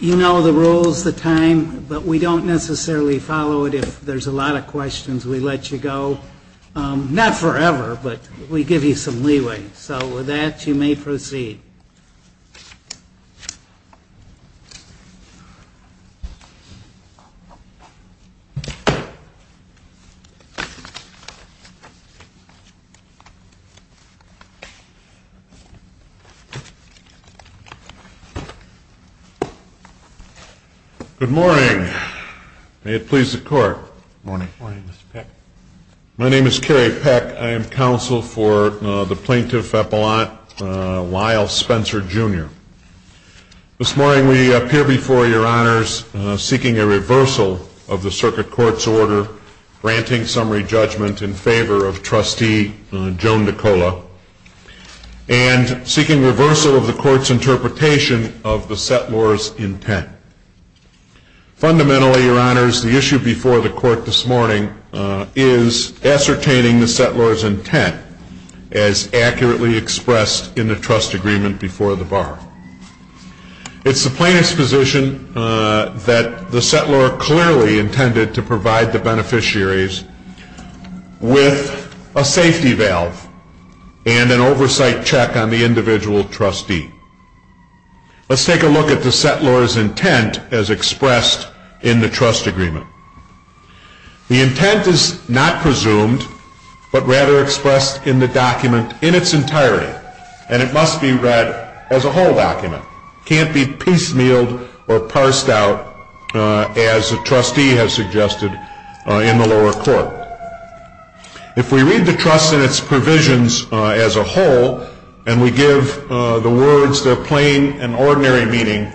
You know the rules, the time, but we don't necessarily follow it. If there's a lot of questions, we let you go. Not forever, but we give you some leeway. So with that, you may proceed. Good morning. May it please the Court. Good morning, Mr. Peck. My name is Kerry Peck. I am counsel for the Plaintiff Appellant Lyle Spencer, Jr. This morning, we appear before Your Honors seeking a reversal of the Circuit Court's order granting summary judgment in favor of Trustee Joan Di Cola and seeking reversal of the Court's interpretation of the settlor's intent. Fundamentally, Your Honors, the issue before the Court this morning is ascertaining the settlor's intent as accurately expressed in the trust agreement before the bar. It's the plaintiff's position that the settlor clearly intended to provide the beneficiaries with a safety valve and an oversight check on the individual trustee. Let's take a look at the settlor's intent as expressed in the trust agreement. The intent is not presumed, but rather expressed in the document in its entirety, and it must be read as a whole document. It can't be piecemealed or parsed out as the trustee has suggested in the lower court. If we read the trust in its provisions as a whole and we give the words their plain and ordinary meaning,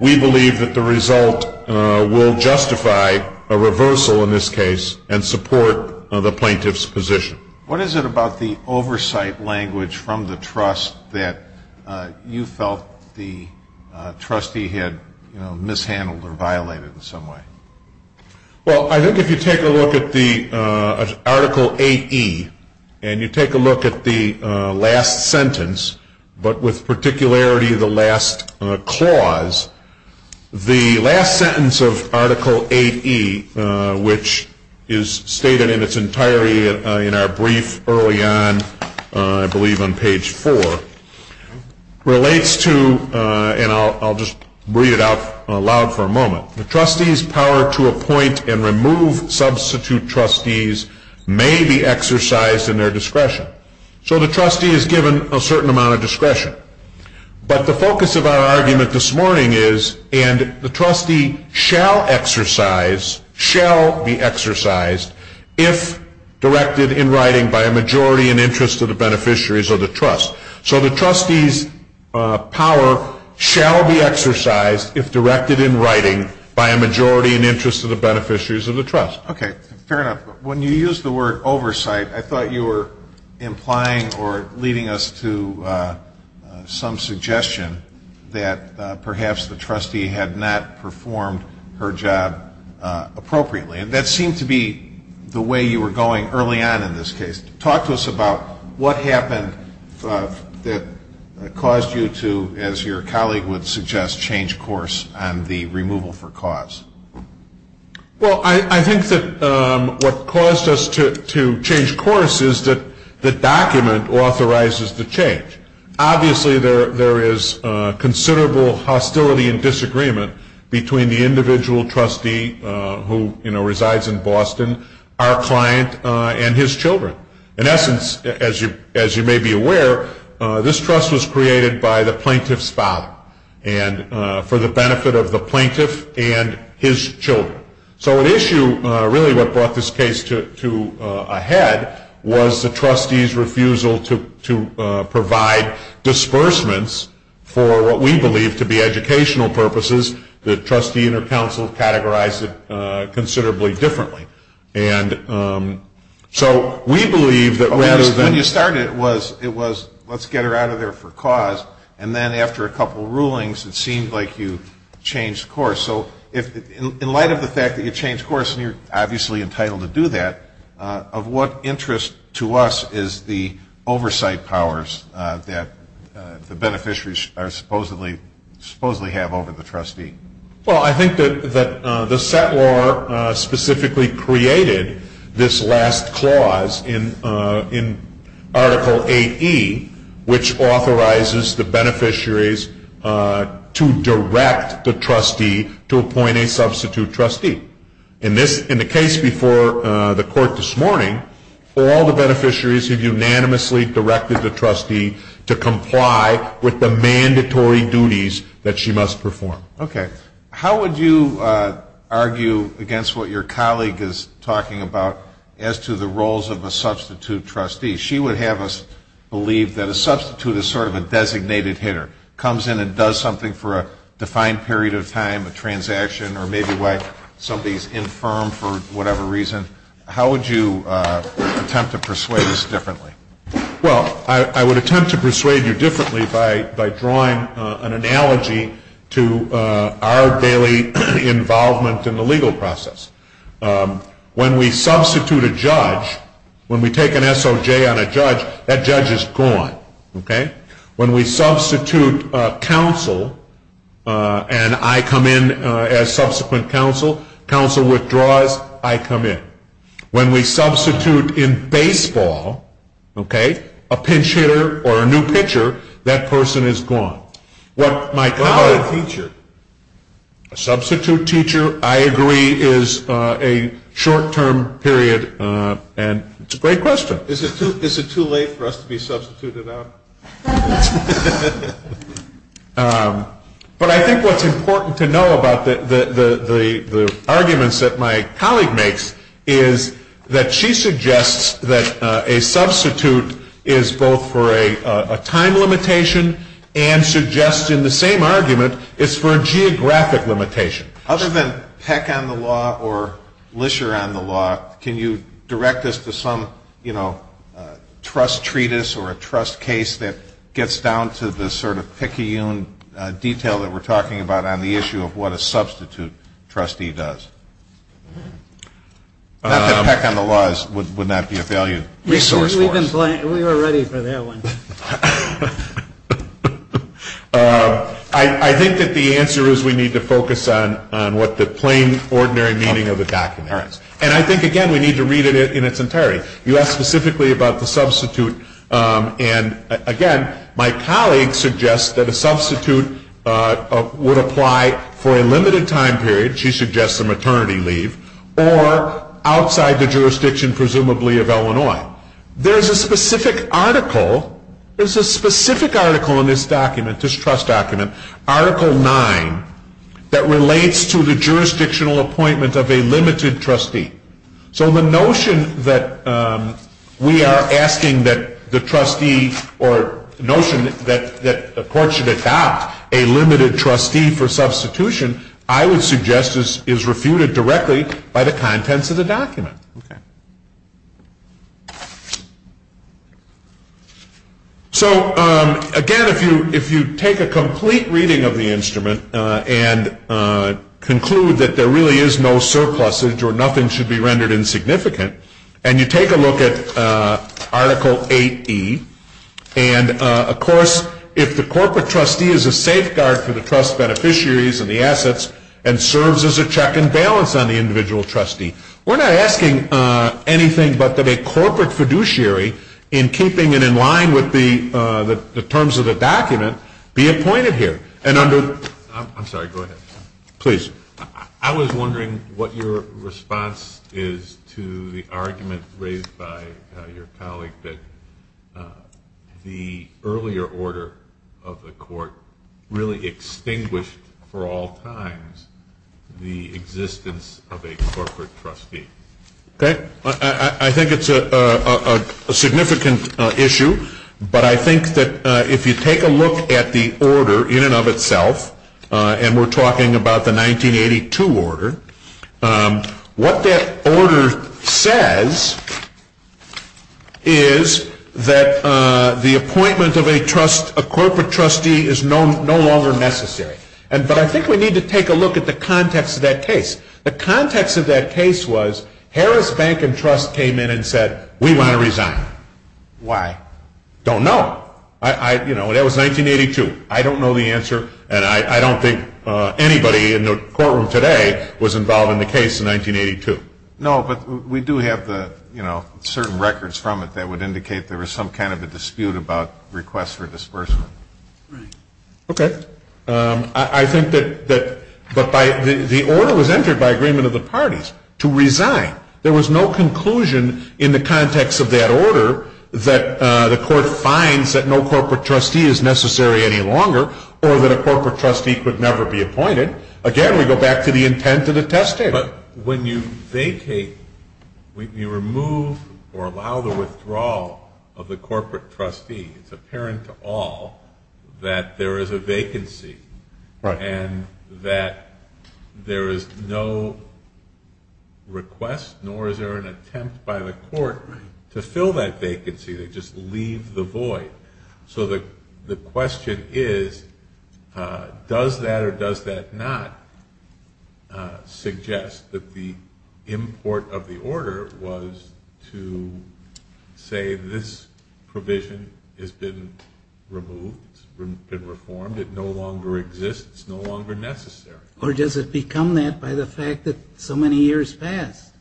we believe that the result will justify a reversal in this case and support the plaintiff's position. What is it about the oversight language from the trust that you felt the trustee had mishandled or violated in some way? Well, I think if you take a look at Article 8E and you take a look at the last sentence, but with particularity the last clause, the last sentence of Article 8E, which is stated in its entirety in our brief early on, I believe on page 4, relates to, and I'll just read it out loud for a moment, the trustee's power to appoint and remove substitute trustees may be exercised in their discretion. So the trustee is given a certain amount of discretion. But the focus of our argument this morning is, and the trustee shall exercise, shall be exercised, if directed in writing by a majority in interest of the beneficiaries of the trust. So the trustee's power shall be exercised if directed in writing by a majority in interest of the beneficiaries of the trust. Okay, fair enough. When you used the word oversight, I thought you were implying or leading us to some suggestion that perhaps the trustee had not performed her job appropriately. And that seemed to be the way you were going early on in this case. Talk to us about what happened that caused you to, as your colleague would suggest, change course on the removal for cause. Well, I think that what caused us to change course is that the document authorizes the change. Obviously, there is considerable hostility and disagreement between the individual trustee who resides in Boston, our client, and his children. In essence, as you may be aware, this trust was created by the plaintiff's father for the benefit of the plaintiff and his children. So an issue, really, what brought this case to a head was the trustee's refusal to provide disbursements for what we believe to be educational purposes. The trustee and her counsel categorized it considerably differently. And so we believe that rather than... When you started, it was, let's get her out of there for cause. And then after a couple of rulings, it seemed like you changed course. So in light of the fact that you changed course, and you're obviously entitled to do that, of what interest to us is the oversight powers that the beneficiaries supposedly have over the trustee? Well, I think that the set law specifically created this last clause in Article 8E, which authorizes the beneficiaries to direct the trustee to appoint a substitute trustee. In the case before the court this morning, all the beneficiaries have unanimously directed the trustee to comply with the mandatory duties that she must perform. Okay. How would you argue against what your colleague is talking about as to the roles of a substitute trustee? She would have us believe that a substitute is sort of a designated hitter, comes in and does something for a defined period of time, a transaction, or maybe somebody's infirm for whatever reason. How would you attempt to persuade us differently? Well, I would attempt to persuade you differently by drawing an analogy to our daily involvement in the legal process. When we substitute a judge, when we take an SOJ on a judge, that judge is gone. Okay? When we substitute counsel and I come in as subsequent counsel, counsel withdraws, I come in. When we substitute in baseball, okay, a pinch hitter or a new pitcher, that person is gone. A substitute teacher, I agree, is a short-term period and it's a great question. Is it too late for us to be substituted out? But I think what's important to know about the arguments that my colleague makes is that she suggests that a substitute is both for a time limitation and suggests in the same argument it's for a geographic limitation. Other than Peck on the law or Lischer on the law, can you direct us to some, you know, trust treatise or a trust case that gets down to the sort of picayune detail that we're talking about on the issue of what a substitute trustee does? Not that Peck on the law would not be a value resource for us. We were ready for that one. I think that the answer is we need to focus on what the plain, ordinary meaning of the document is. And I think, again, we need to read it in its entirety. You asked specifically about the substitute and, again, my colleague suggests that a substitute would apply for a limited time period. She suggests a maternity leave or outside the jurisdiction presumably of Illinois. There's a specific article, there's a specific article in this document, this trust document, Article 9, that relates to the jurisdictional appointment of a limited trustee. So the notion that we are asking that the trustee or the notion that the court should adopt a limited trustee for substitution, I would suggest is refuted directly by the contents of the document. So, again, if you take a complete reading of the instrument and conclude that there really is no surplusage or nothing should be rendered insignificant, and you take a look at Article 8E, and, of course, if the corporate trustee is a safeguard for the trust beneficiaries and the assets and serves as a check and balance on the individual trustee, we're not asking anything but that a corporate fiduciary, in keeping it in line with the terms of the document, be appointed here. And under the... I'm sorry, go ahead. Please. I was wondering what your response is to the argument raised by your colleague that the earlier order of the court really extinguished for all times the existence of a corporate trustee. Okay. I think it's a significant issue, but I think that if you take a look at the order in and of itself, and we're talking about the 1982 order, what that order says is that the appointment of a corporate trustee is no longer necessary. But I think we need to take a look at the context of that case. The context of that case was Harris Bank and Trust came in and said, we want to resign. Why? Don't know. You know, that was 1982. I don't know the answer, and I don't think anybody in the courtroom today was involved in the case in 1982. No, but we do have the, you know, certain records from it that would indicate there was some kind of a dispute about requests for disbursement. Right. Okay. I think that the order was entered by agreement of the parties to resign. There was no conclusion in the context of that order that the court finds that no corporate trustee is necessary any longer or that a corporate trustee could never be appointed. Again, we go back to the intent of the testator. But when you vacate, you remove or allow the withdrawal of the corporate trustee, it's apparent to all that there is a vacancy and that there is no request, nor is there an attempt by the court to fill that vacancy. They just leave the void. So the question is, does that or does that not suggest that the import of the order was to say this provision has been removed, it's been reformed, it no longer exists, it's no longer necessary. Or does it become that by the fact that so many years passed?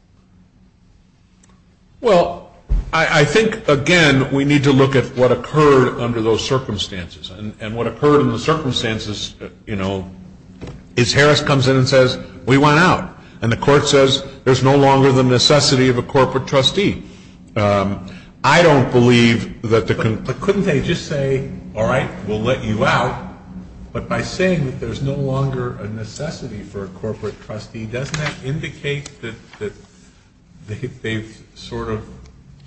Well, I think, again, we need to look at what occurred under those circumstances. And what occurred in the circumstances, you know, is Harris comes in and says, we want out. And the court says, there's no longer the necessity of a corporate trustee. I don't believe that the conclusion. But couldn't they just say, all right, we'll let you out. But by saying that there's no longer a necessity for a corporate trustee, doesn't that indicate that they've sort of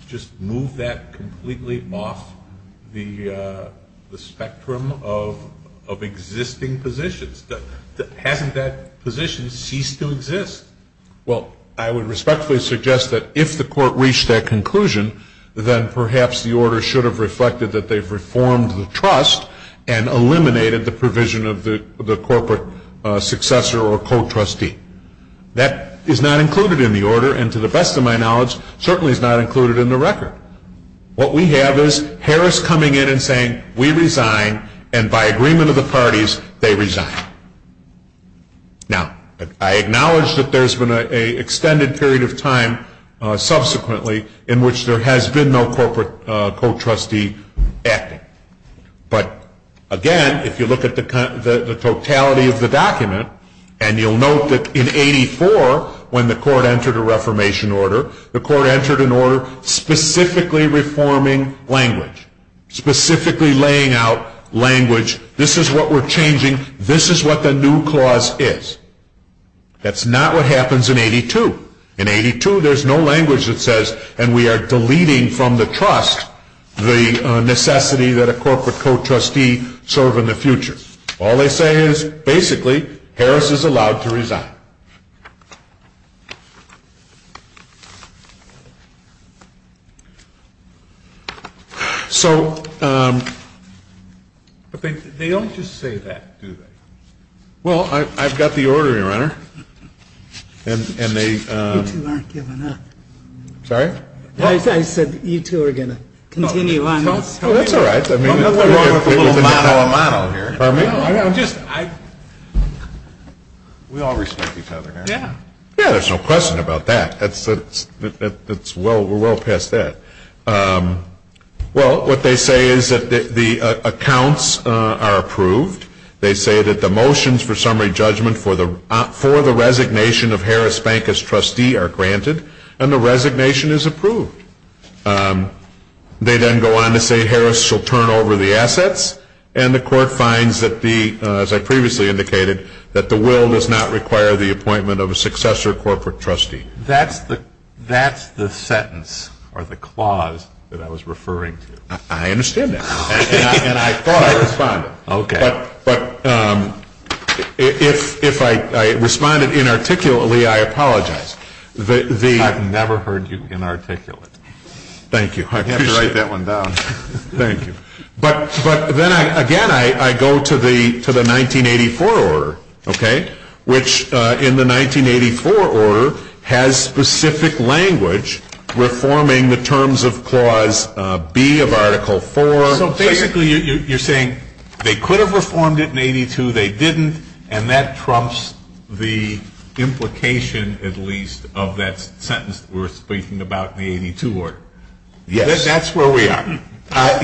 just moved that completely off the spectrum of existing positions? Hasn't that position ceased to exist? Well, I would respectfully suggest that if the court reached that conclusion, then perhaps the order should have reflected that they've reformed the trust and eliminated the provision of the corporate successor or co-trustee. That is not included in the order, and to the best of my knowledge, certainly is not included in the record. What we have is Harris coming in and saying, we resign, and by agreement of the parties, they resign. Now, I acknowledge that there's been an extended period of time subsequently in which there has been no corporate co-trustee acting. But again, if you look at the totality of the document, and you'll note that in 84, when the court entered a reformation order, the court entered an order specifically reforming language, specifically laying out language, this is what we're changing, this is what the new clause is. That's not what happens in 82. In 82, there's no language that says, and we are deleting from the trust, the necessity that a corporate co-trustee serve in the future. All they say is, basically, Harris is allowed to resign. So they don't just say that, do they? Well, I've got the order here, Your Honor. You two aren't giving up. Sorry? I said you two are going to continue on. Oh, that's all right. I mean, nothing wrong with a little motto a motto here. Pardon me? We all respect each other, Your Honor. Yeah, there's no question about that. We're well past that. Well, what they say is that the accounts are approved. They say that the motions for summary judgment for the resignation of Harris Bank as trustee are granted, and the resignation is approved. They then go on to say Harris shall turn over the assets, and the court finds that the, as I previously indicated, that the will does not require the appointment of a successor corporate trustee. That's the sentence or the clause that I was referring to. I understand that. And I thought I responded. Okay. But if I responded inarticulately, I apologize. I've never heard you inarticulate. Thank you. I'd have to write that one down. Thank you. But then, again, I go to the 1984 order, okay, which in the 1984 order has specific language reforming the terms of Clause B of Article 4. So basically you're saying they could have reformed it in 82, they didn't, and that trumps the implication, at least, of that sentence that we're speaking about in the 82 order. Yes. That's where we are.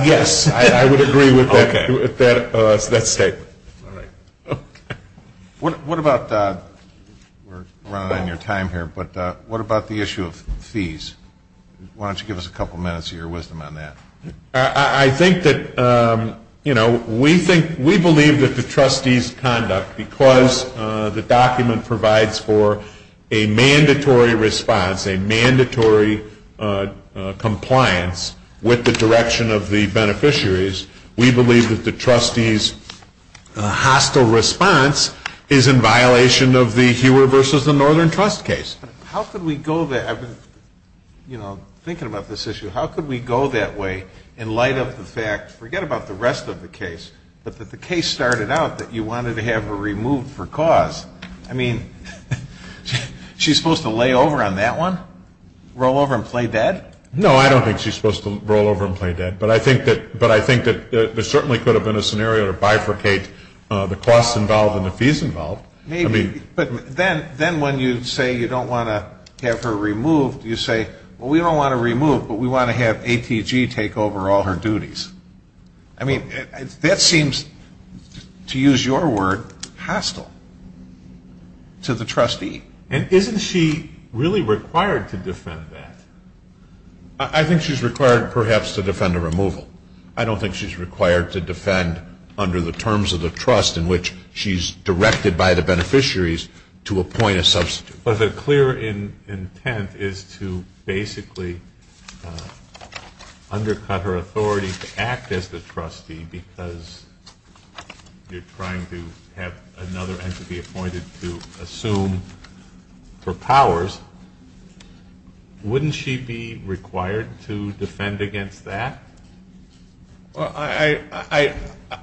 Yes, I would agree with that statement. All right. Okay. What about, we're running out of your time here, but what about the issue of fees? Why don't you give us a couple minutes of your wisdom on that. I think that, you know, we believe that the trustees' conduct, because the document provides for a mandatory response, a mandatory compliance with the direction of the beneficiaries, we believe that the trustees' hostile response is in violation of the Hewer versus the Northern Trust case. How could we go that, you know, thinking about this issue, how could we go that way in light of the fact, forget about the rest of the case, but that the case started out that you wanted to have her removed for cause? I mean, she's supposed to lay over on that one? Roll over and play dead? No, I don't think she's supposed to roll over and play dead, but I think that there certainly could have been a scenario to bifurcate the costs involved and the fees involved. Maybe. But then when you say you don't want to have her removed, you say, well, we don't want to remove, but we want to have ATG take over all her duties. I mean, that seems, to use your word, hostile to the trustee. And isn't she really required to defend that? I think she's required perhaps to defend a removal. I don't think she's required to defend under the terms of the trust in which she's directed by the beneficiaries to appoint a substitute. But the clear intent is to basically undercut her authority to act as the trustee because you're trying to have another entity appointed to assume her powers. Wouldn't she be required to defend against that?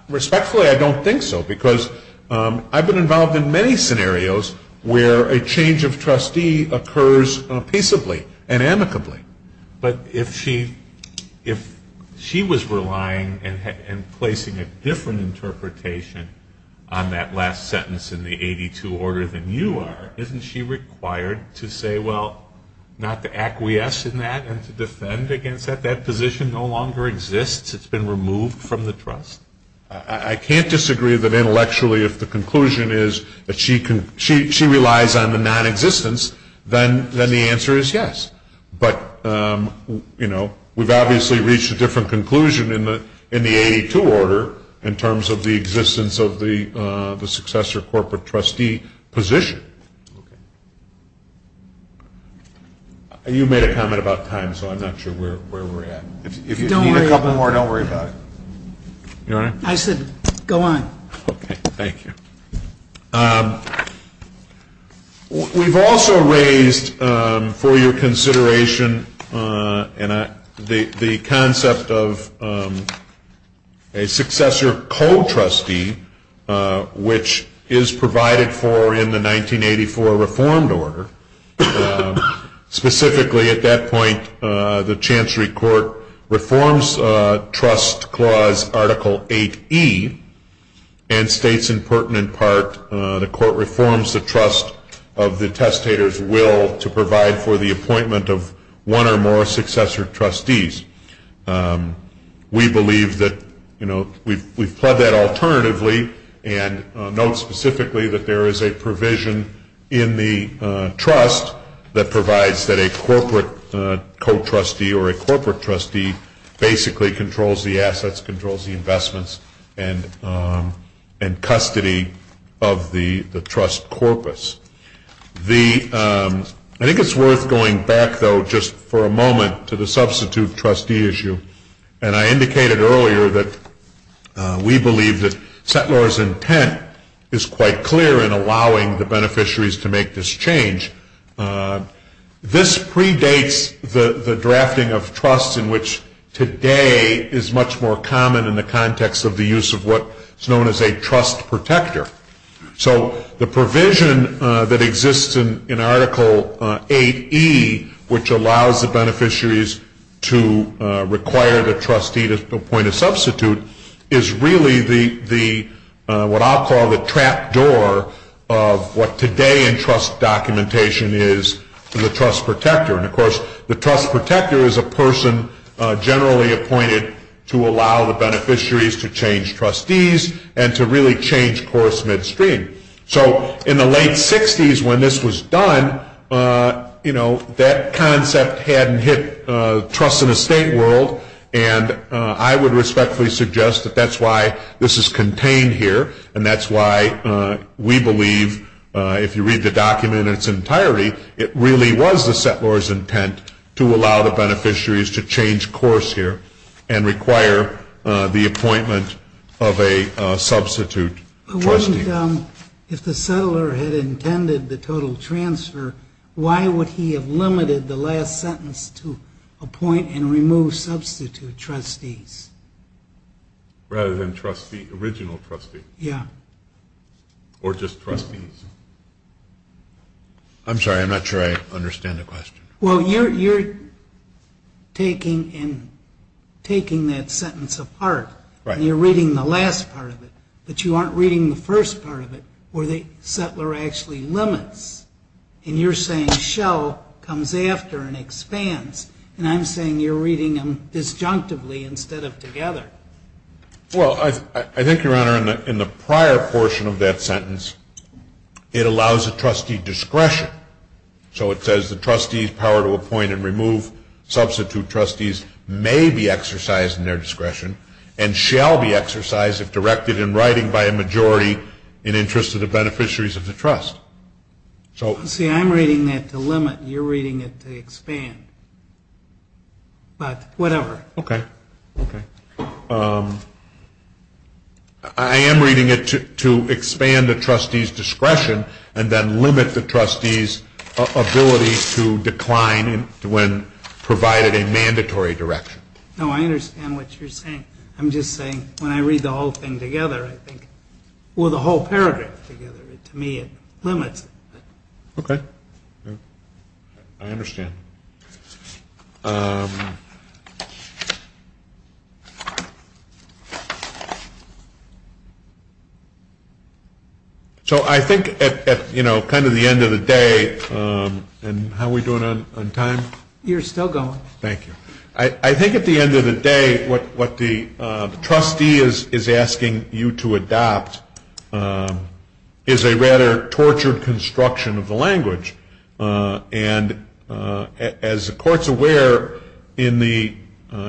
Respectfully, I don't think so, because I've been involved in many scenarios where a change of trustee occurs peaceably and amicably. But if she was relying and placing a different interpretation on that last sentence in the 82 order than you are, isn't she required to say, well, not to acquiesce in that and to defend against that? That position no longer exists. It's been removed from the trust. I can't disagree that intellectually if the conclusion is that she relies on the nonexistence, then the answer is yes. But, you know, we've obviously reached a different conclusion in the 82 order in terms of the existence of the successor corporate trustee position. You made a comment about time, so I'm not sure where we're at. If you need a couple more, don't worry about it. I said go on. Okay. Thank you. We've also raised for your consideration the concept of a successor co-trustee, which is provided for in the 1984 reformed order. Specifically at that point, the Chancery Court reforms trust clause article 8E and states in pertinent part the court reforms the trust of the testator's will to provide for the appointment of one or more successor trustees. We believe that, you know, we've pled that alternatively and note specifically that there is a provision in the trust that provides that a corporate co-trustee or a corporate trustee basically controls the assets, controls the investments and custody of the trust corpus. I think it's worth going back, though, just for a moment to the substitute trustee issue. And I indicated earlier that we believe that Settler's intent is quite clear in allowing the beneficiaries to make this change. This predates the drafting of trusts in which today is much more common in the context of the use of what is known as a trust protector. So the provision that exists in article 8E, which allows the beneficiaries to require the trustee to appoint a substitute, is really what I'll call the trap door of what today in trust documentation is the trust protector. And, of course, the trust protector is a person generally appointed to allow the beneficiaries to change trustees and to really change course midstream. So in the late 60s when this was done, you know, that concept hadn't hit trust in a state world. And I would respectfully suggest that that's why this is contained here and that's why we believe if you read the document in its entirety, it really was the Settler's intent to allow the beneficiaries to change course here and require the appointment of a substitute trustee. If the Settler had intended the total transfer, why would he have limited the last sentence to appoint and remove substitute trustees? Rather than trustee, original trustee. Yeah. Or just trustees. I'm sorry, I'm not sure I understand the question. Well, you're taking that sentence apart. Right. And you're reading the last part of it. But you aren't reading the first part of it where the Settler actually limits. And you're saying shall comes after and expands. And I'm saying you're reading them disjunctively instead of together. Well, I think, Your Honor, in the prior portion of that sentence, it allows a trustee discretion. So it says the trustee's power to appoint and remove substitute trustees may be exercised in their discretion and shall be exercised if directed in writing by a majority in interest of the beneficiaries of the trust. See, I'm reading that to limit. You're reading it to expand. But whatever. Okay. Okay. I am reading it to expand the trustee's discretion and then limit the trustee's ability to decline when provided a mandatory direction. No, I understand what you're saying. I'm just saying when I read the whole thing together, I think, well, the whole paragraph together, to me it limits it. Okay. I understand. So I think at, you know, kind of the end of the day, and how are we doing on time? You're still going. Thank you. I think at the end of the day what the trustee is asking you to adopt is a rather tortured construction of the language. And as the Court's aware in the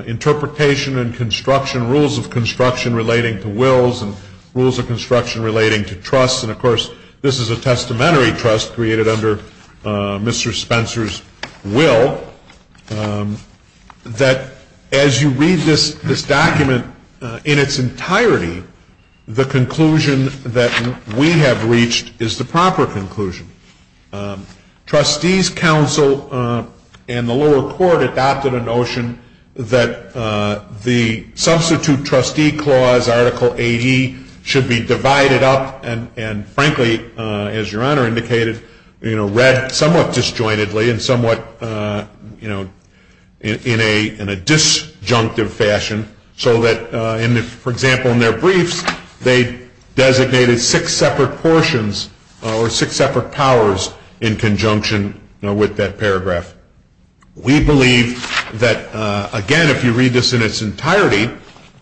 interpretation and construction, rules of construction relating to wills and rules of construction relating to trusts, and, of course, this is a testamentary trust created under Mr. Spencer's will, that as you read this document in its entirety, the conclusion that we have reached is the proper conclusion. Trustees Council and the lower court adopted a notion that the substitute trustee clause, Article 80, should be divided up and frankly, as your Honor indicated, read somewhat disjointedly and somewhat in a disjunctive fashion so that, for example, in their briefs they designated six separate portions or six separate powers in conjunction with that paragraph. We believe that, again, if you read this in its entirety,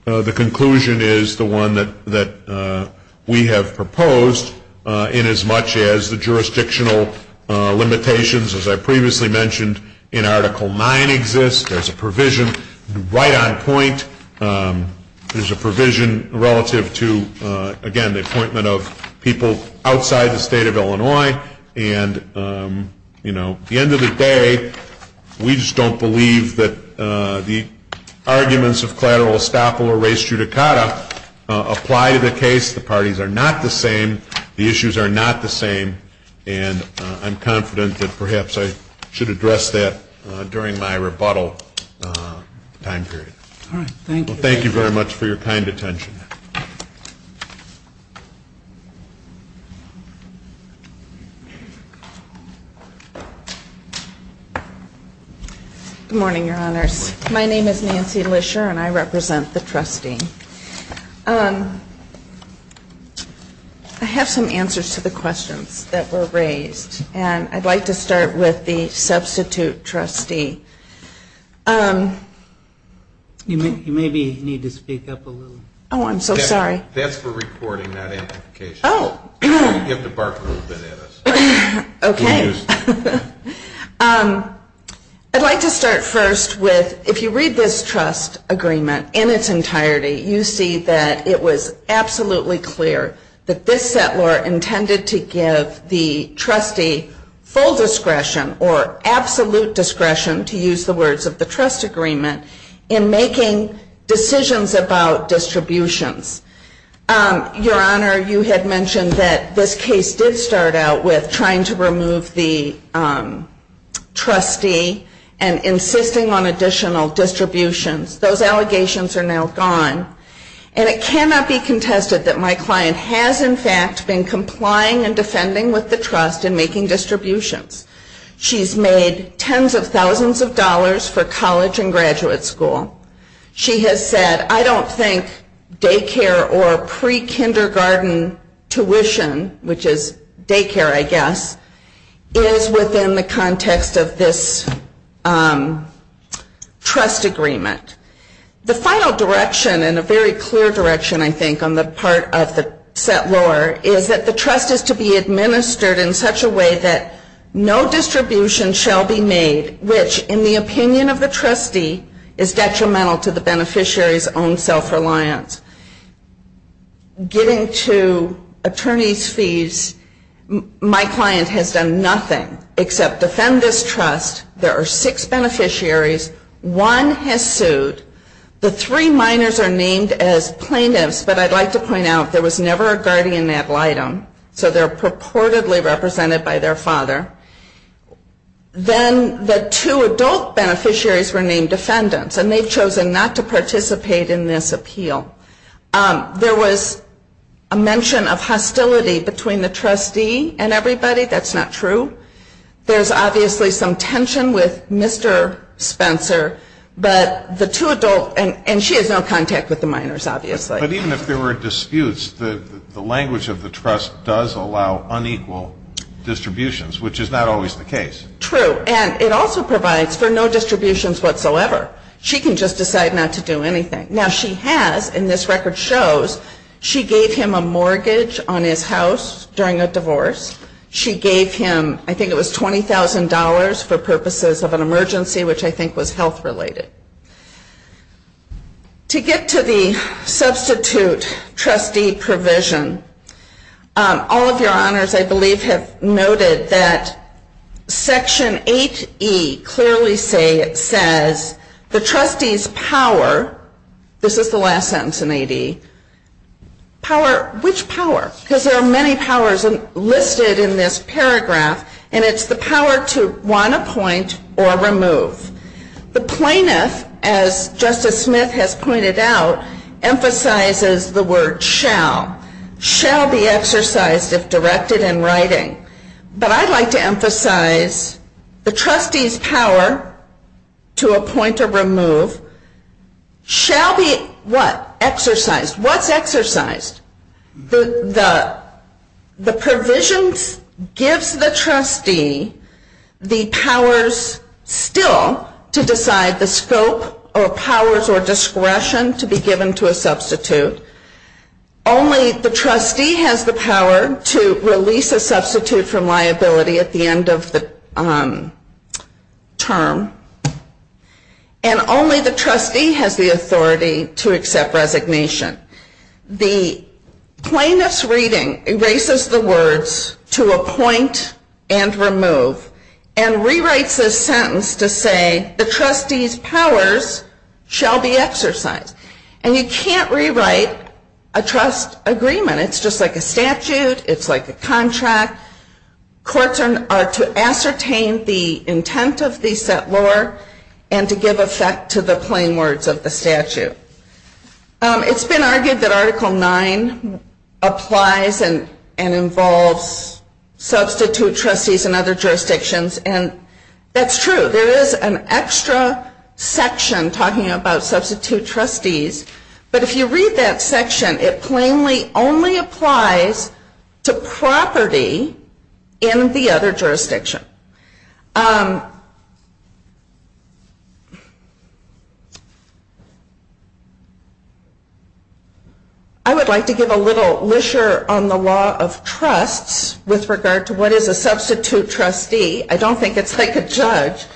the conclusion is the one that we have proposed in as much as the jurisdictional limitations, as I previously mentioned, in Article 9 exist. There's a provision right on point. There's a provision relative to, again, the appointment of people outside the State of Illinois. And, you know, at the end of the day, we just don't believe that the arguments of collateral estoppel or res judicata apply to the case. The parties are not the same. The issues are not the same. And I'm confident that perhaps I should address that during my rebuttal time period. All right. Thank you. Thank you very much for your kind attention. Good morning, Your Honors. My name is Nancy Lisher and I represent the trustee. I have some answers to the questions that were raised. And I'd like to start with the substitute trustee. You maybe need to speak up a little. Oh, I'm so sorry. That's for reporting, not amplification. Oh. You have to bark a little bit at us. Okay. I'd like to start first with, if you read this trust agreement in its entirety, you see that it was absolutely clear that this settlor intended to give the trustee full discretion or absolute discretion, to use the words of the trust agreement, in making decisions about distributions. Your Honor, you had mentioned that this case did start out with trying to remove the trustee and insisting on additional distributions. Those allegations are now gone. And it cannot be contested that my client has, in fact, been complying and defending with the trust in making distributions. She's made tens of thousands of dollars for college and graduate school. She has said, I don't think daycare or pre-kindergarten tuition, which is daycare, I guess, is within the context of this trust agreement. The final direction, and a very clear direction, I think, on the part of the settlor, is that the trust is to be administered in such a way that no distribution shall be made which, in the opinion of the trustee, is detrimental to the beneficiary's own self-reliance. Getting to attorney's fees, my client has done nothing except defend this trust. There are six beneficiaries. One has sued. The three minors are named as plaintiffs. But I'd like to point out, there was never a guardian ad litem, so they're purportedly represented by their father. Then the two adult beneficiaries were named defendants, and they've chosen not to participate in this appeal. There was a mention of hostility between the trustee and everybody. That's not true. There's obviously some tension with Mr. Spencer, but the two adult, and she has no contact with the minors, obviously. But even if there were disputes, the language of the trust does allow unequal distributions, which is not always the case. True. And it also provides for no distributions whatsoever. She can just decide not to do anything. Now, she has, and this record shows, she gave him a mortgage on his house during a divorce. She gave him, I think it was $20,000 for purposes of an emergency, which I think was health-related. To get to the substitute trustee provision, all of your honors, I believe, have noted that Section 8E clearly says, the trustee's power, this is the last sentence in 8E, which power? Because there are many powers listed in this paragraph, and it's the power to want to appoint or remove. The plaintiff, as Justice Smith has pointed out, emphasizes the word shall. Shall be exercised if directed in writing. But I'd like to emphasize the trustee's power to appoint or remove shall be what? Exercised. What's exercised? The provisions gives the trustee the powers still to decide the scope or powers or discretion to be given to a substitute. Only the trustee has the power to release a substitute from liability at the end of the term. And only the trustee has the authority to accept resignation. The plaintiff's reading erases the words to appoint and remove and rewrites this sentence to say, the trustee's powers shall be exercised. And you can't rewrite a trust agreement. It's just like a statute. It's like a contract. Courts are to ascertain the intent of the set law and to give effect to the plain words of the statute. It's been argued that Article 9 applies and involves substitute trustees in other jurisdictions. And that's true. There is an extra section talking about substitute trustees. But if you read that section, it plainly only applies to property in the other jurisdiction. I would like to give a little leisure on the law of trusts with regard to what is a substitute trustee. I don't think it's like a judge.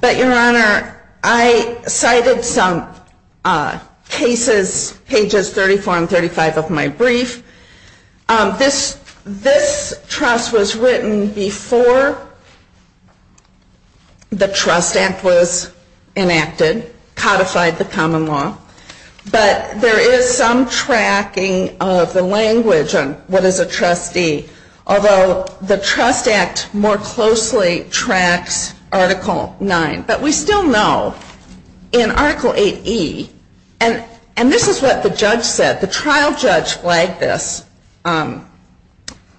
But, Your Honor, I cited some cases, pages 34 and 35 of my brief. This trust was written before the Trust Act was enacted, codified the common law. But there is some tracking of the language on what is a trustee. Although the Trust Act more closely tracks Article 9. But we still know in Article 8E, and this is what the judge said. The trial judge flagged this. I'm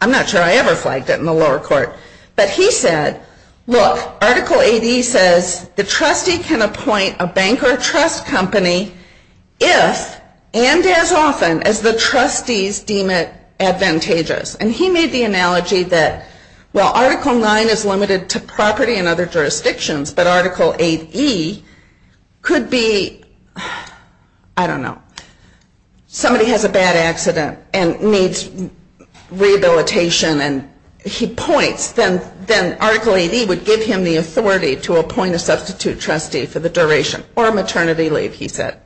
not sure I ever flagged it in the lower court. But he said, look, Article 8E says the trustee can appoint a bank or a trust company if and as often as the trustees deem it advantageous. And he made the analogy that while Article 9 is limited to property in other jurisdictions, but Article 8E could be, I don't know, somebody has a bad accident and needs rehabilitation. And he points, then Article 8E would give him the authority to appoint a substitute trustee for the duration or maternity leave, he said.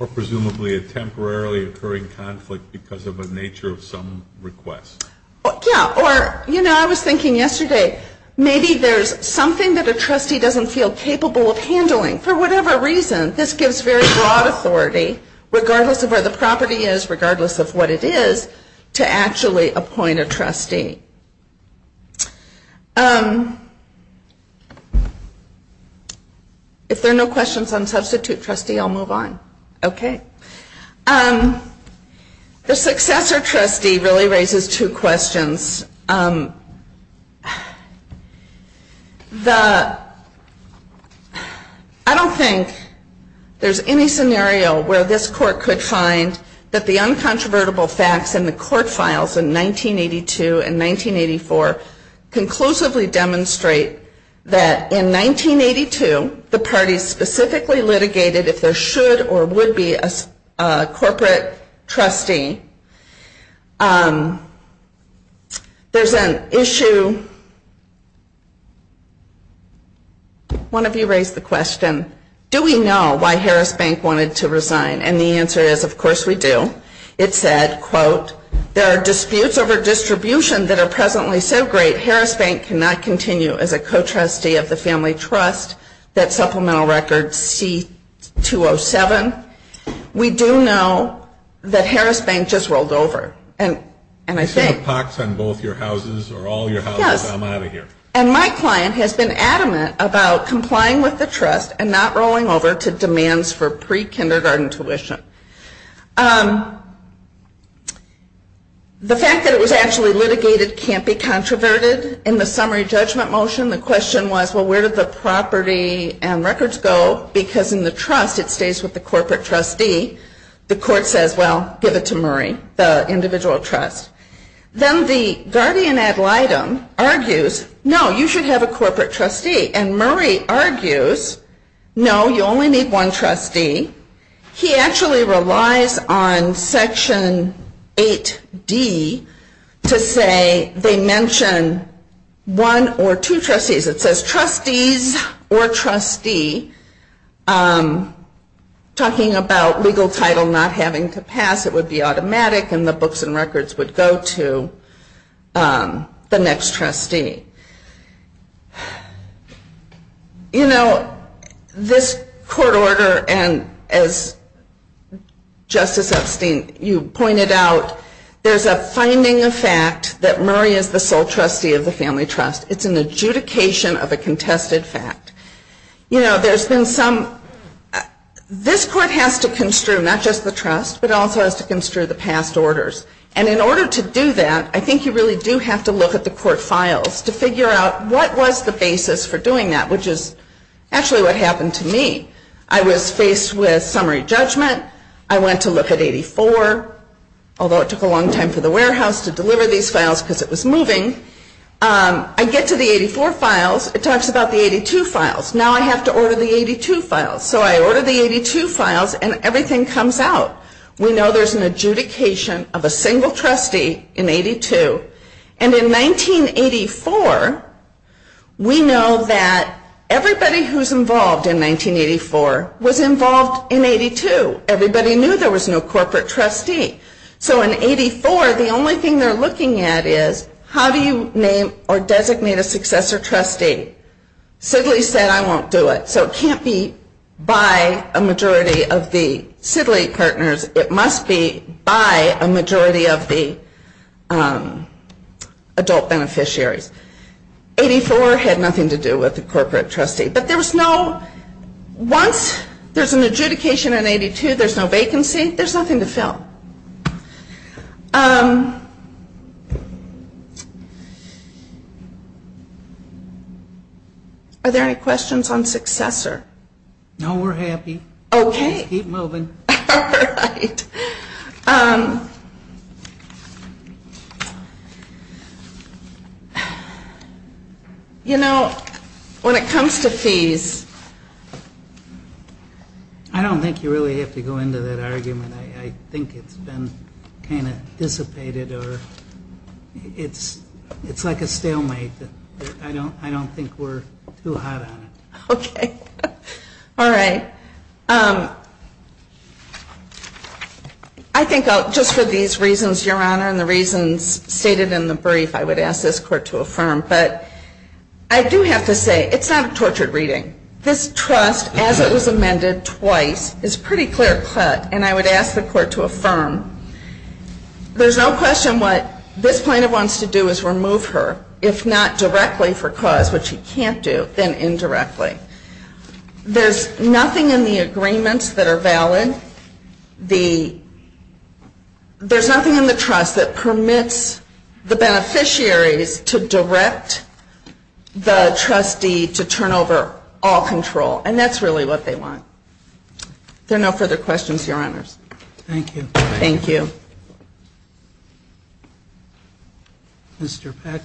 Or presumably a temporarily occurring conflict because of a nature of some request. Or, you know, I was thinking yesterday, maybe there's something that a trustee doesn't feel capable of handling. For whatever reason, this gives very broad authority, regardless of where the property is, regardless of what it is, to actually appoint a trustee. If there are no questions on substitute trustee, I'll move on. Okay. The successor trustee really raises two questions. I don't think there's any scenario where this court could find that the uncontrovertible facts in the court files in 1982 and 1984 conclusively demonstrate that in 1982, the parties specifically litigated if there should or would be a corporate trustee. There's an issue. One of you raised the question, do we know why Harris Bank wanted to resign? And the answer is, of course we do. It said, quote, there are disputes over distribution that are presently so great, that Harris Bank cannot continue as a co-trustee of the family trust, that supplemental record C-207. We do know that Harris Bank just rolled over. And I think... You see the pox on both your houses or all your houses? Yes. I'm out of here. And my client has been adamant about complying with the trust and not rolling over to demands for pre-kindergarten tuition. The fact that it was actually litigated can't be controverted in the summary judgment motion. The question was, well, where did the property and records go? Because in the trust, it stays with the corporate trustee. The court says, well, give it to Murray, the individual trust. Then the guardian ad litem argues, no, you should have a corporate trustee. And Murray argues, no, you only need one trustee. He actually relies on Section 8D to say they mention one or two trustees. It says trustees or trustee, talking about legal title not having to pass. It would be automatic, and the books and records would go to the next trustee. You know, this court order, and as Justice Epstein, you pointed out, there's a finding of fact that Murray is the sole trustee of the family trust. It's an adjudication of a contested fact. You know, there's been some ‑‑ this court has to construe not just the trust, but it also has to construe the past orders. And in order to do that, I think you really do have to look at the court files to figure out what was the basis for doing that, which is actually what happened to me. I was faced with summary judgment. I went to look at 84, although it took a long time for the warehouse to deliver these files because it was moving. I get to the 84 files. It talks about the 82 files. Now I have to order the 82 files. So I order the 82 files, and everything comes out. We know there's an adjudication of a single trustee in 82. And in 1984, we know that everybody who's involved in 1984 was involved in 82. Everybody knew there was no corporate trustee. So in 84, the only thing they're looking at is how do you name or designate a successor trustee? Sidley said, I won't do it. So it can't be by a majority of the Sidley partners. It must be by a majority of the adult beneficiaries. 84 had nothing to do with the corporate trustee. But once there's an adjudication in 82, there's no vacancy. There's nothing to fill. Are there any questions on successor? No, we're happy. Okay. Keep moving. All right. You know, when it comes to fees, I don't think you really have to go into that argument. I think it's been kind of dissipated or it's like a stalemate. I don't think we're too hot on it. Okay. All right. I think just for these reasons, Your Honor, and the reasons stated in the brief, I would ask this Court to affirm. But I do have to say, it's not a tortured reading. This trust, as it was amended twice, is pretty clear-cut. And I would ask the Court to affirm. There's no question what this plaintiff wants to do is remove her, if not directly for cause, which he can't do, then indirectly. There's nothing in the agreements that are valid. There's nothing in the trust that permits the beneficiaries to direct the trustee to turn over all control. And that's really what they want. If there are no further questions, Your Honors. Thank you. Thank you. Mr. Peck.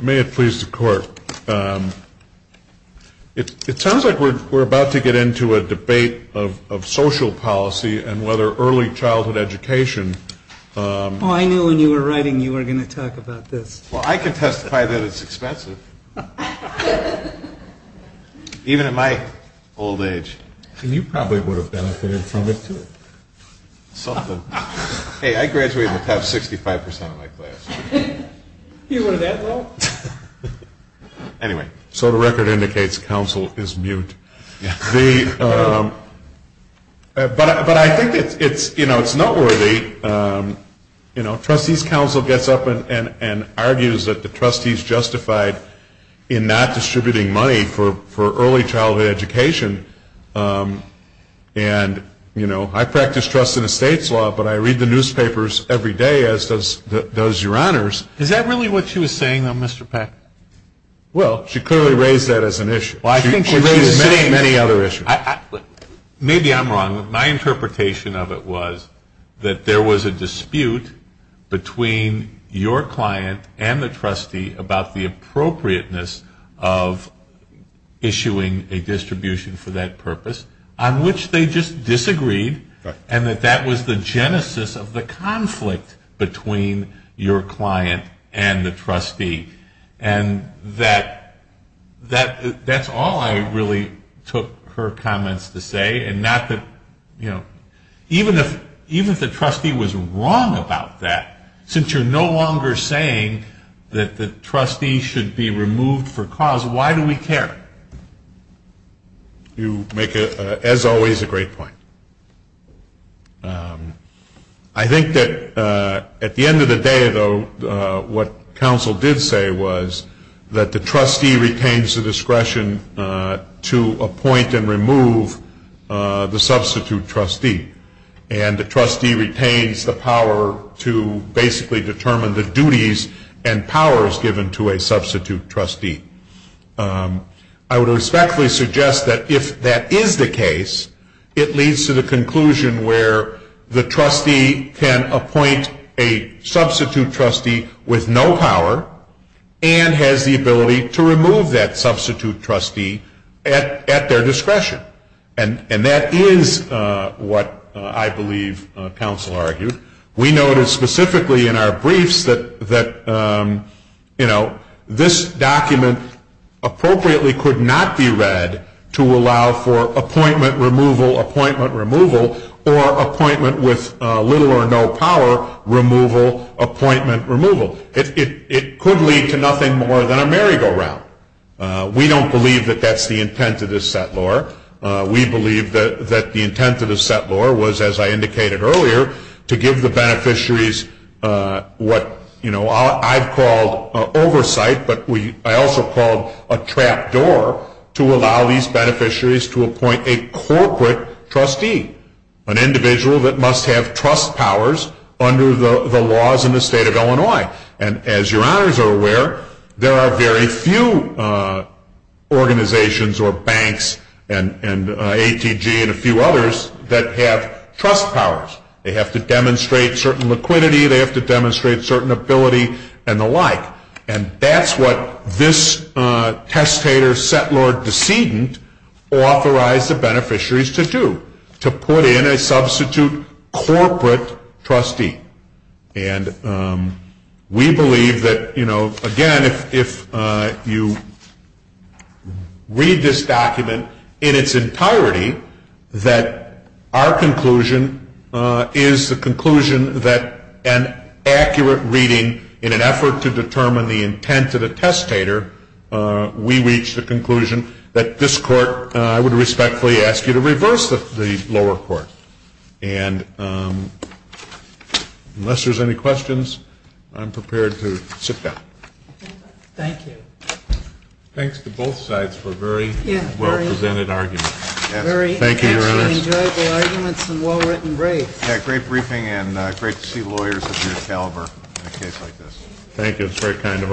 May it please the Court. It sounds like we're about to get into a debate of social policy and whether early childhood education. Oh, I knew when you were writing you were going to talk about this. Well, I can testify that it's expensive, even in my old age. And you probably would have benefited from it, too. Something. Hey, I graduated with 65% of my class. You were that low? Anyway. So the record indicates counsel is mute. But I think it's noteworthy. You know, trustees' counsel gets up and argues that the trustees justified in not distributing money for early childhood education. And, you know, I practice trust in a state's law, but I read the newspapers every day, as does Your Honors. Is that really what she was saying, though, Mr. Peck? Well, she clearly raised that as an issue. Well, I think she raised many, many other issues. Maybe I'm wrong. My interpretation of it was that there was a dispute between your client and the trustee about the appropriateness of issuing a distribution for that purpose, on which they just disagreed, and that that was the genesis of the conflict between your client and the trustee. And that's all I really took her comments to say, and not that, you know, even if the trustee was wrong about that, since you're no longer saying that the trustee should be removed for cause, why do we care? You make, as always, a great point. I think that at the end of the day, though, what counsel did say was that the trustee retains the discretion to appoint and remove the substitute trustee, and the trustee retains the power to basically determine the duties and powers given to a substitute trustee. I would respectfully suggest that if that is the case, it leads to the conclusion where the trustee can appoint a substitute trustee with no power and has the ability to remove that substitute trustee at their discretion. And that is what I believe counsel argued. We noted specifically in our briefs that, you know, this document appropriately could not be read to allow for appointment removal, appointment removal, or appointment with little or no power, removal, appointment removal. It could lead to nothing more than a merry-go-round. We don't believe that that's the intent of this set law. We believe that the intent of the set law was, as I indicated earlier, to give the beneficiaries what, you know, I've called oversight, but I also called a trap door to allow these beneficiaries to appoint a corporate trustee, an individual that must have trust powers under the laws in the state of Illinois. And as your honors are aware, there are very few organizations or banks and ATG and a few others that have trust powers. They have to demonstrate certain liquidity. They have to demonstrate certain ability and the like. And that's what this testator set law decedent authorized the beneficiaries to do, to put in a substitute corporate trustee. And we believe that, you know, again, if you read this document in its entirety, that our conclusion is the conclusion that an accurate reading in an effort to determine the intent of the testator, we reach the conclusion that this Court, I would respectfully ask you to reverse the lower court. And unless there's any questions, I'm prepared to sit down. Thank you. Thanks to both sides for a very well-presented argument. Very enjoyable arguments and well-written briefs. Yeah, great briefing and great to see lawyers of your caliber in a case like this. Thank you. It's very kind of all of you. Appreciate it.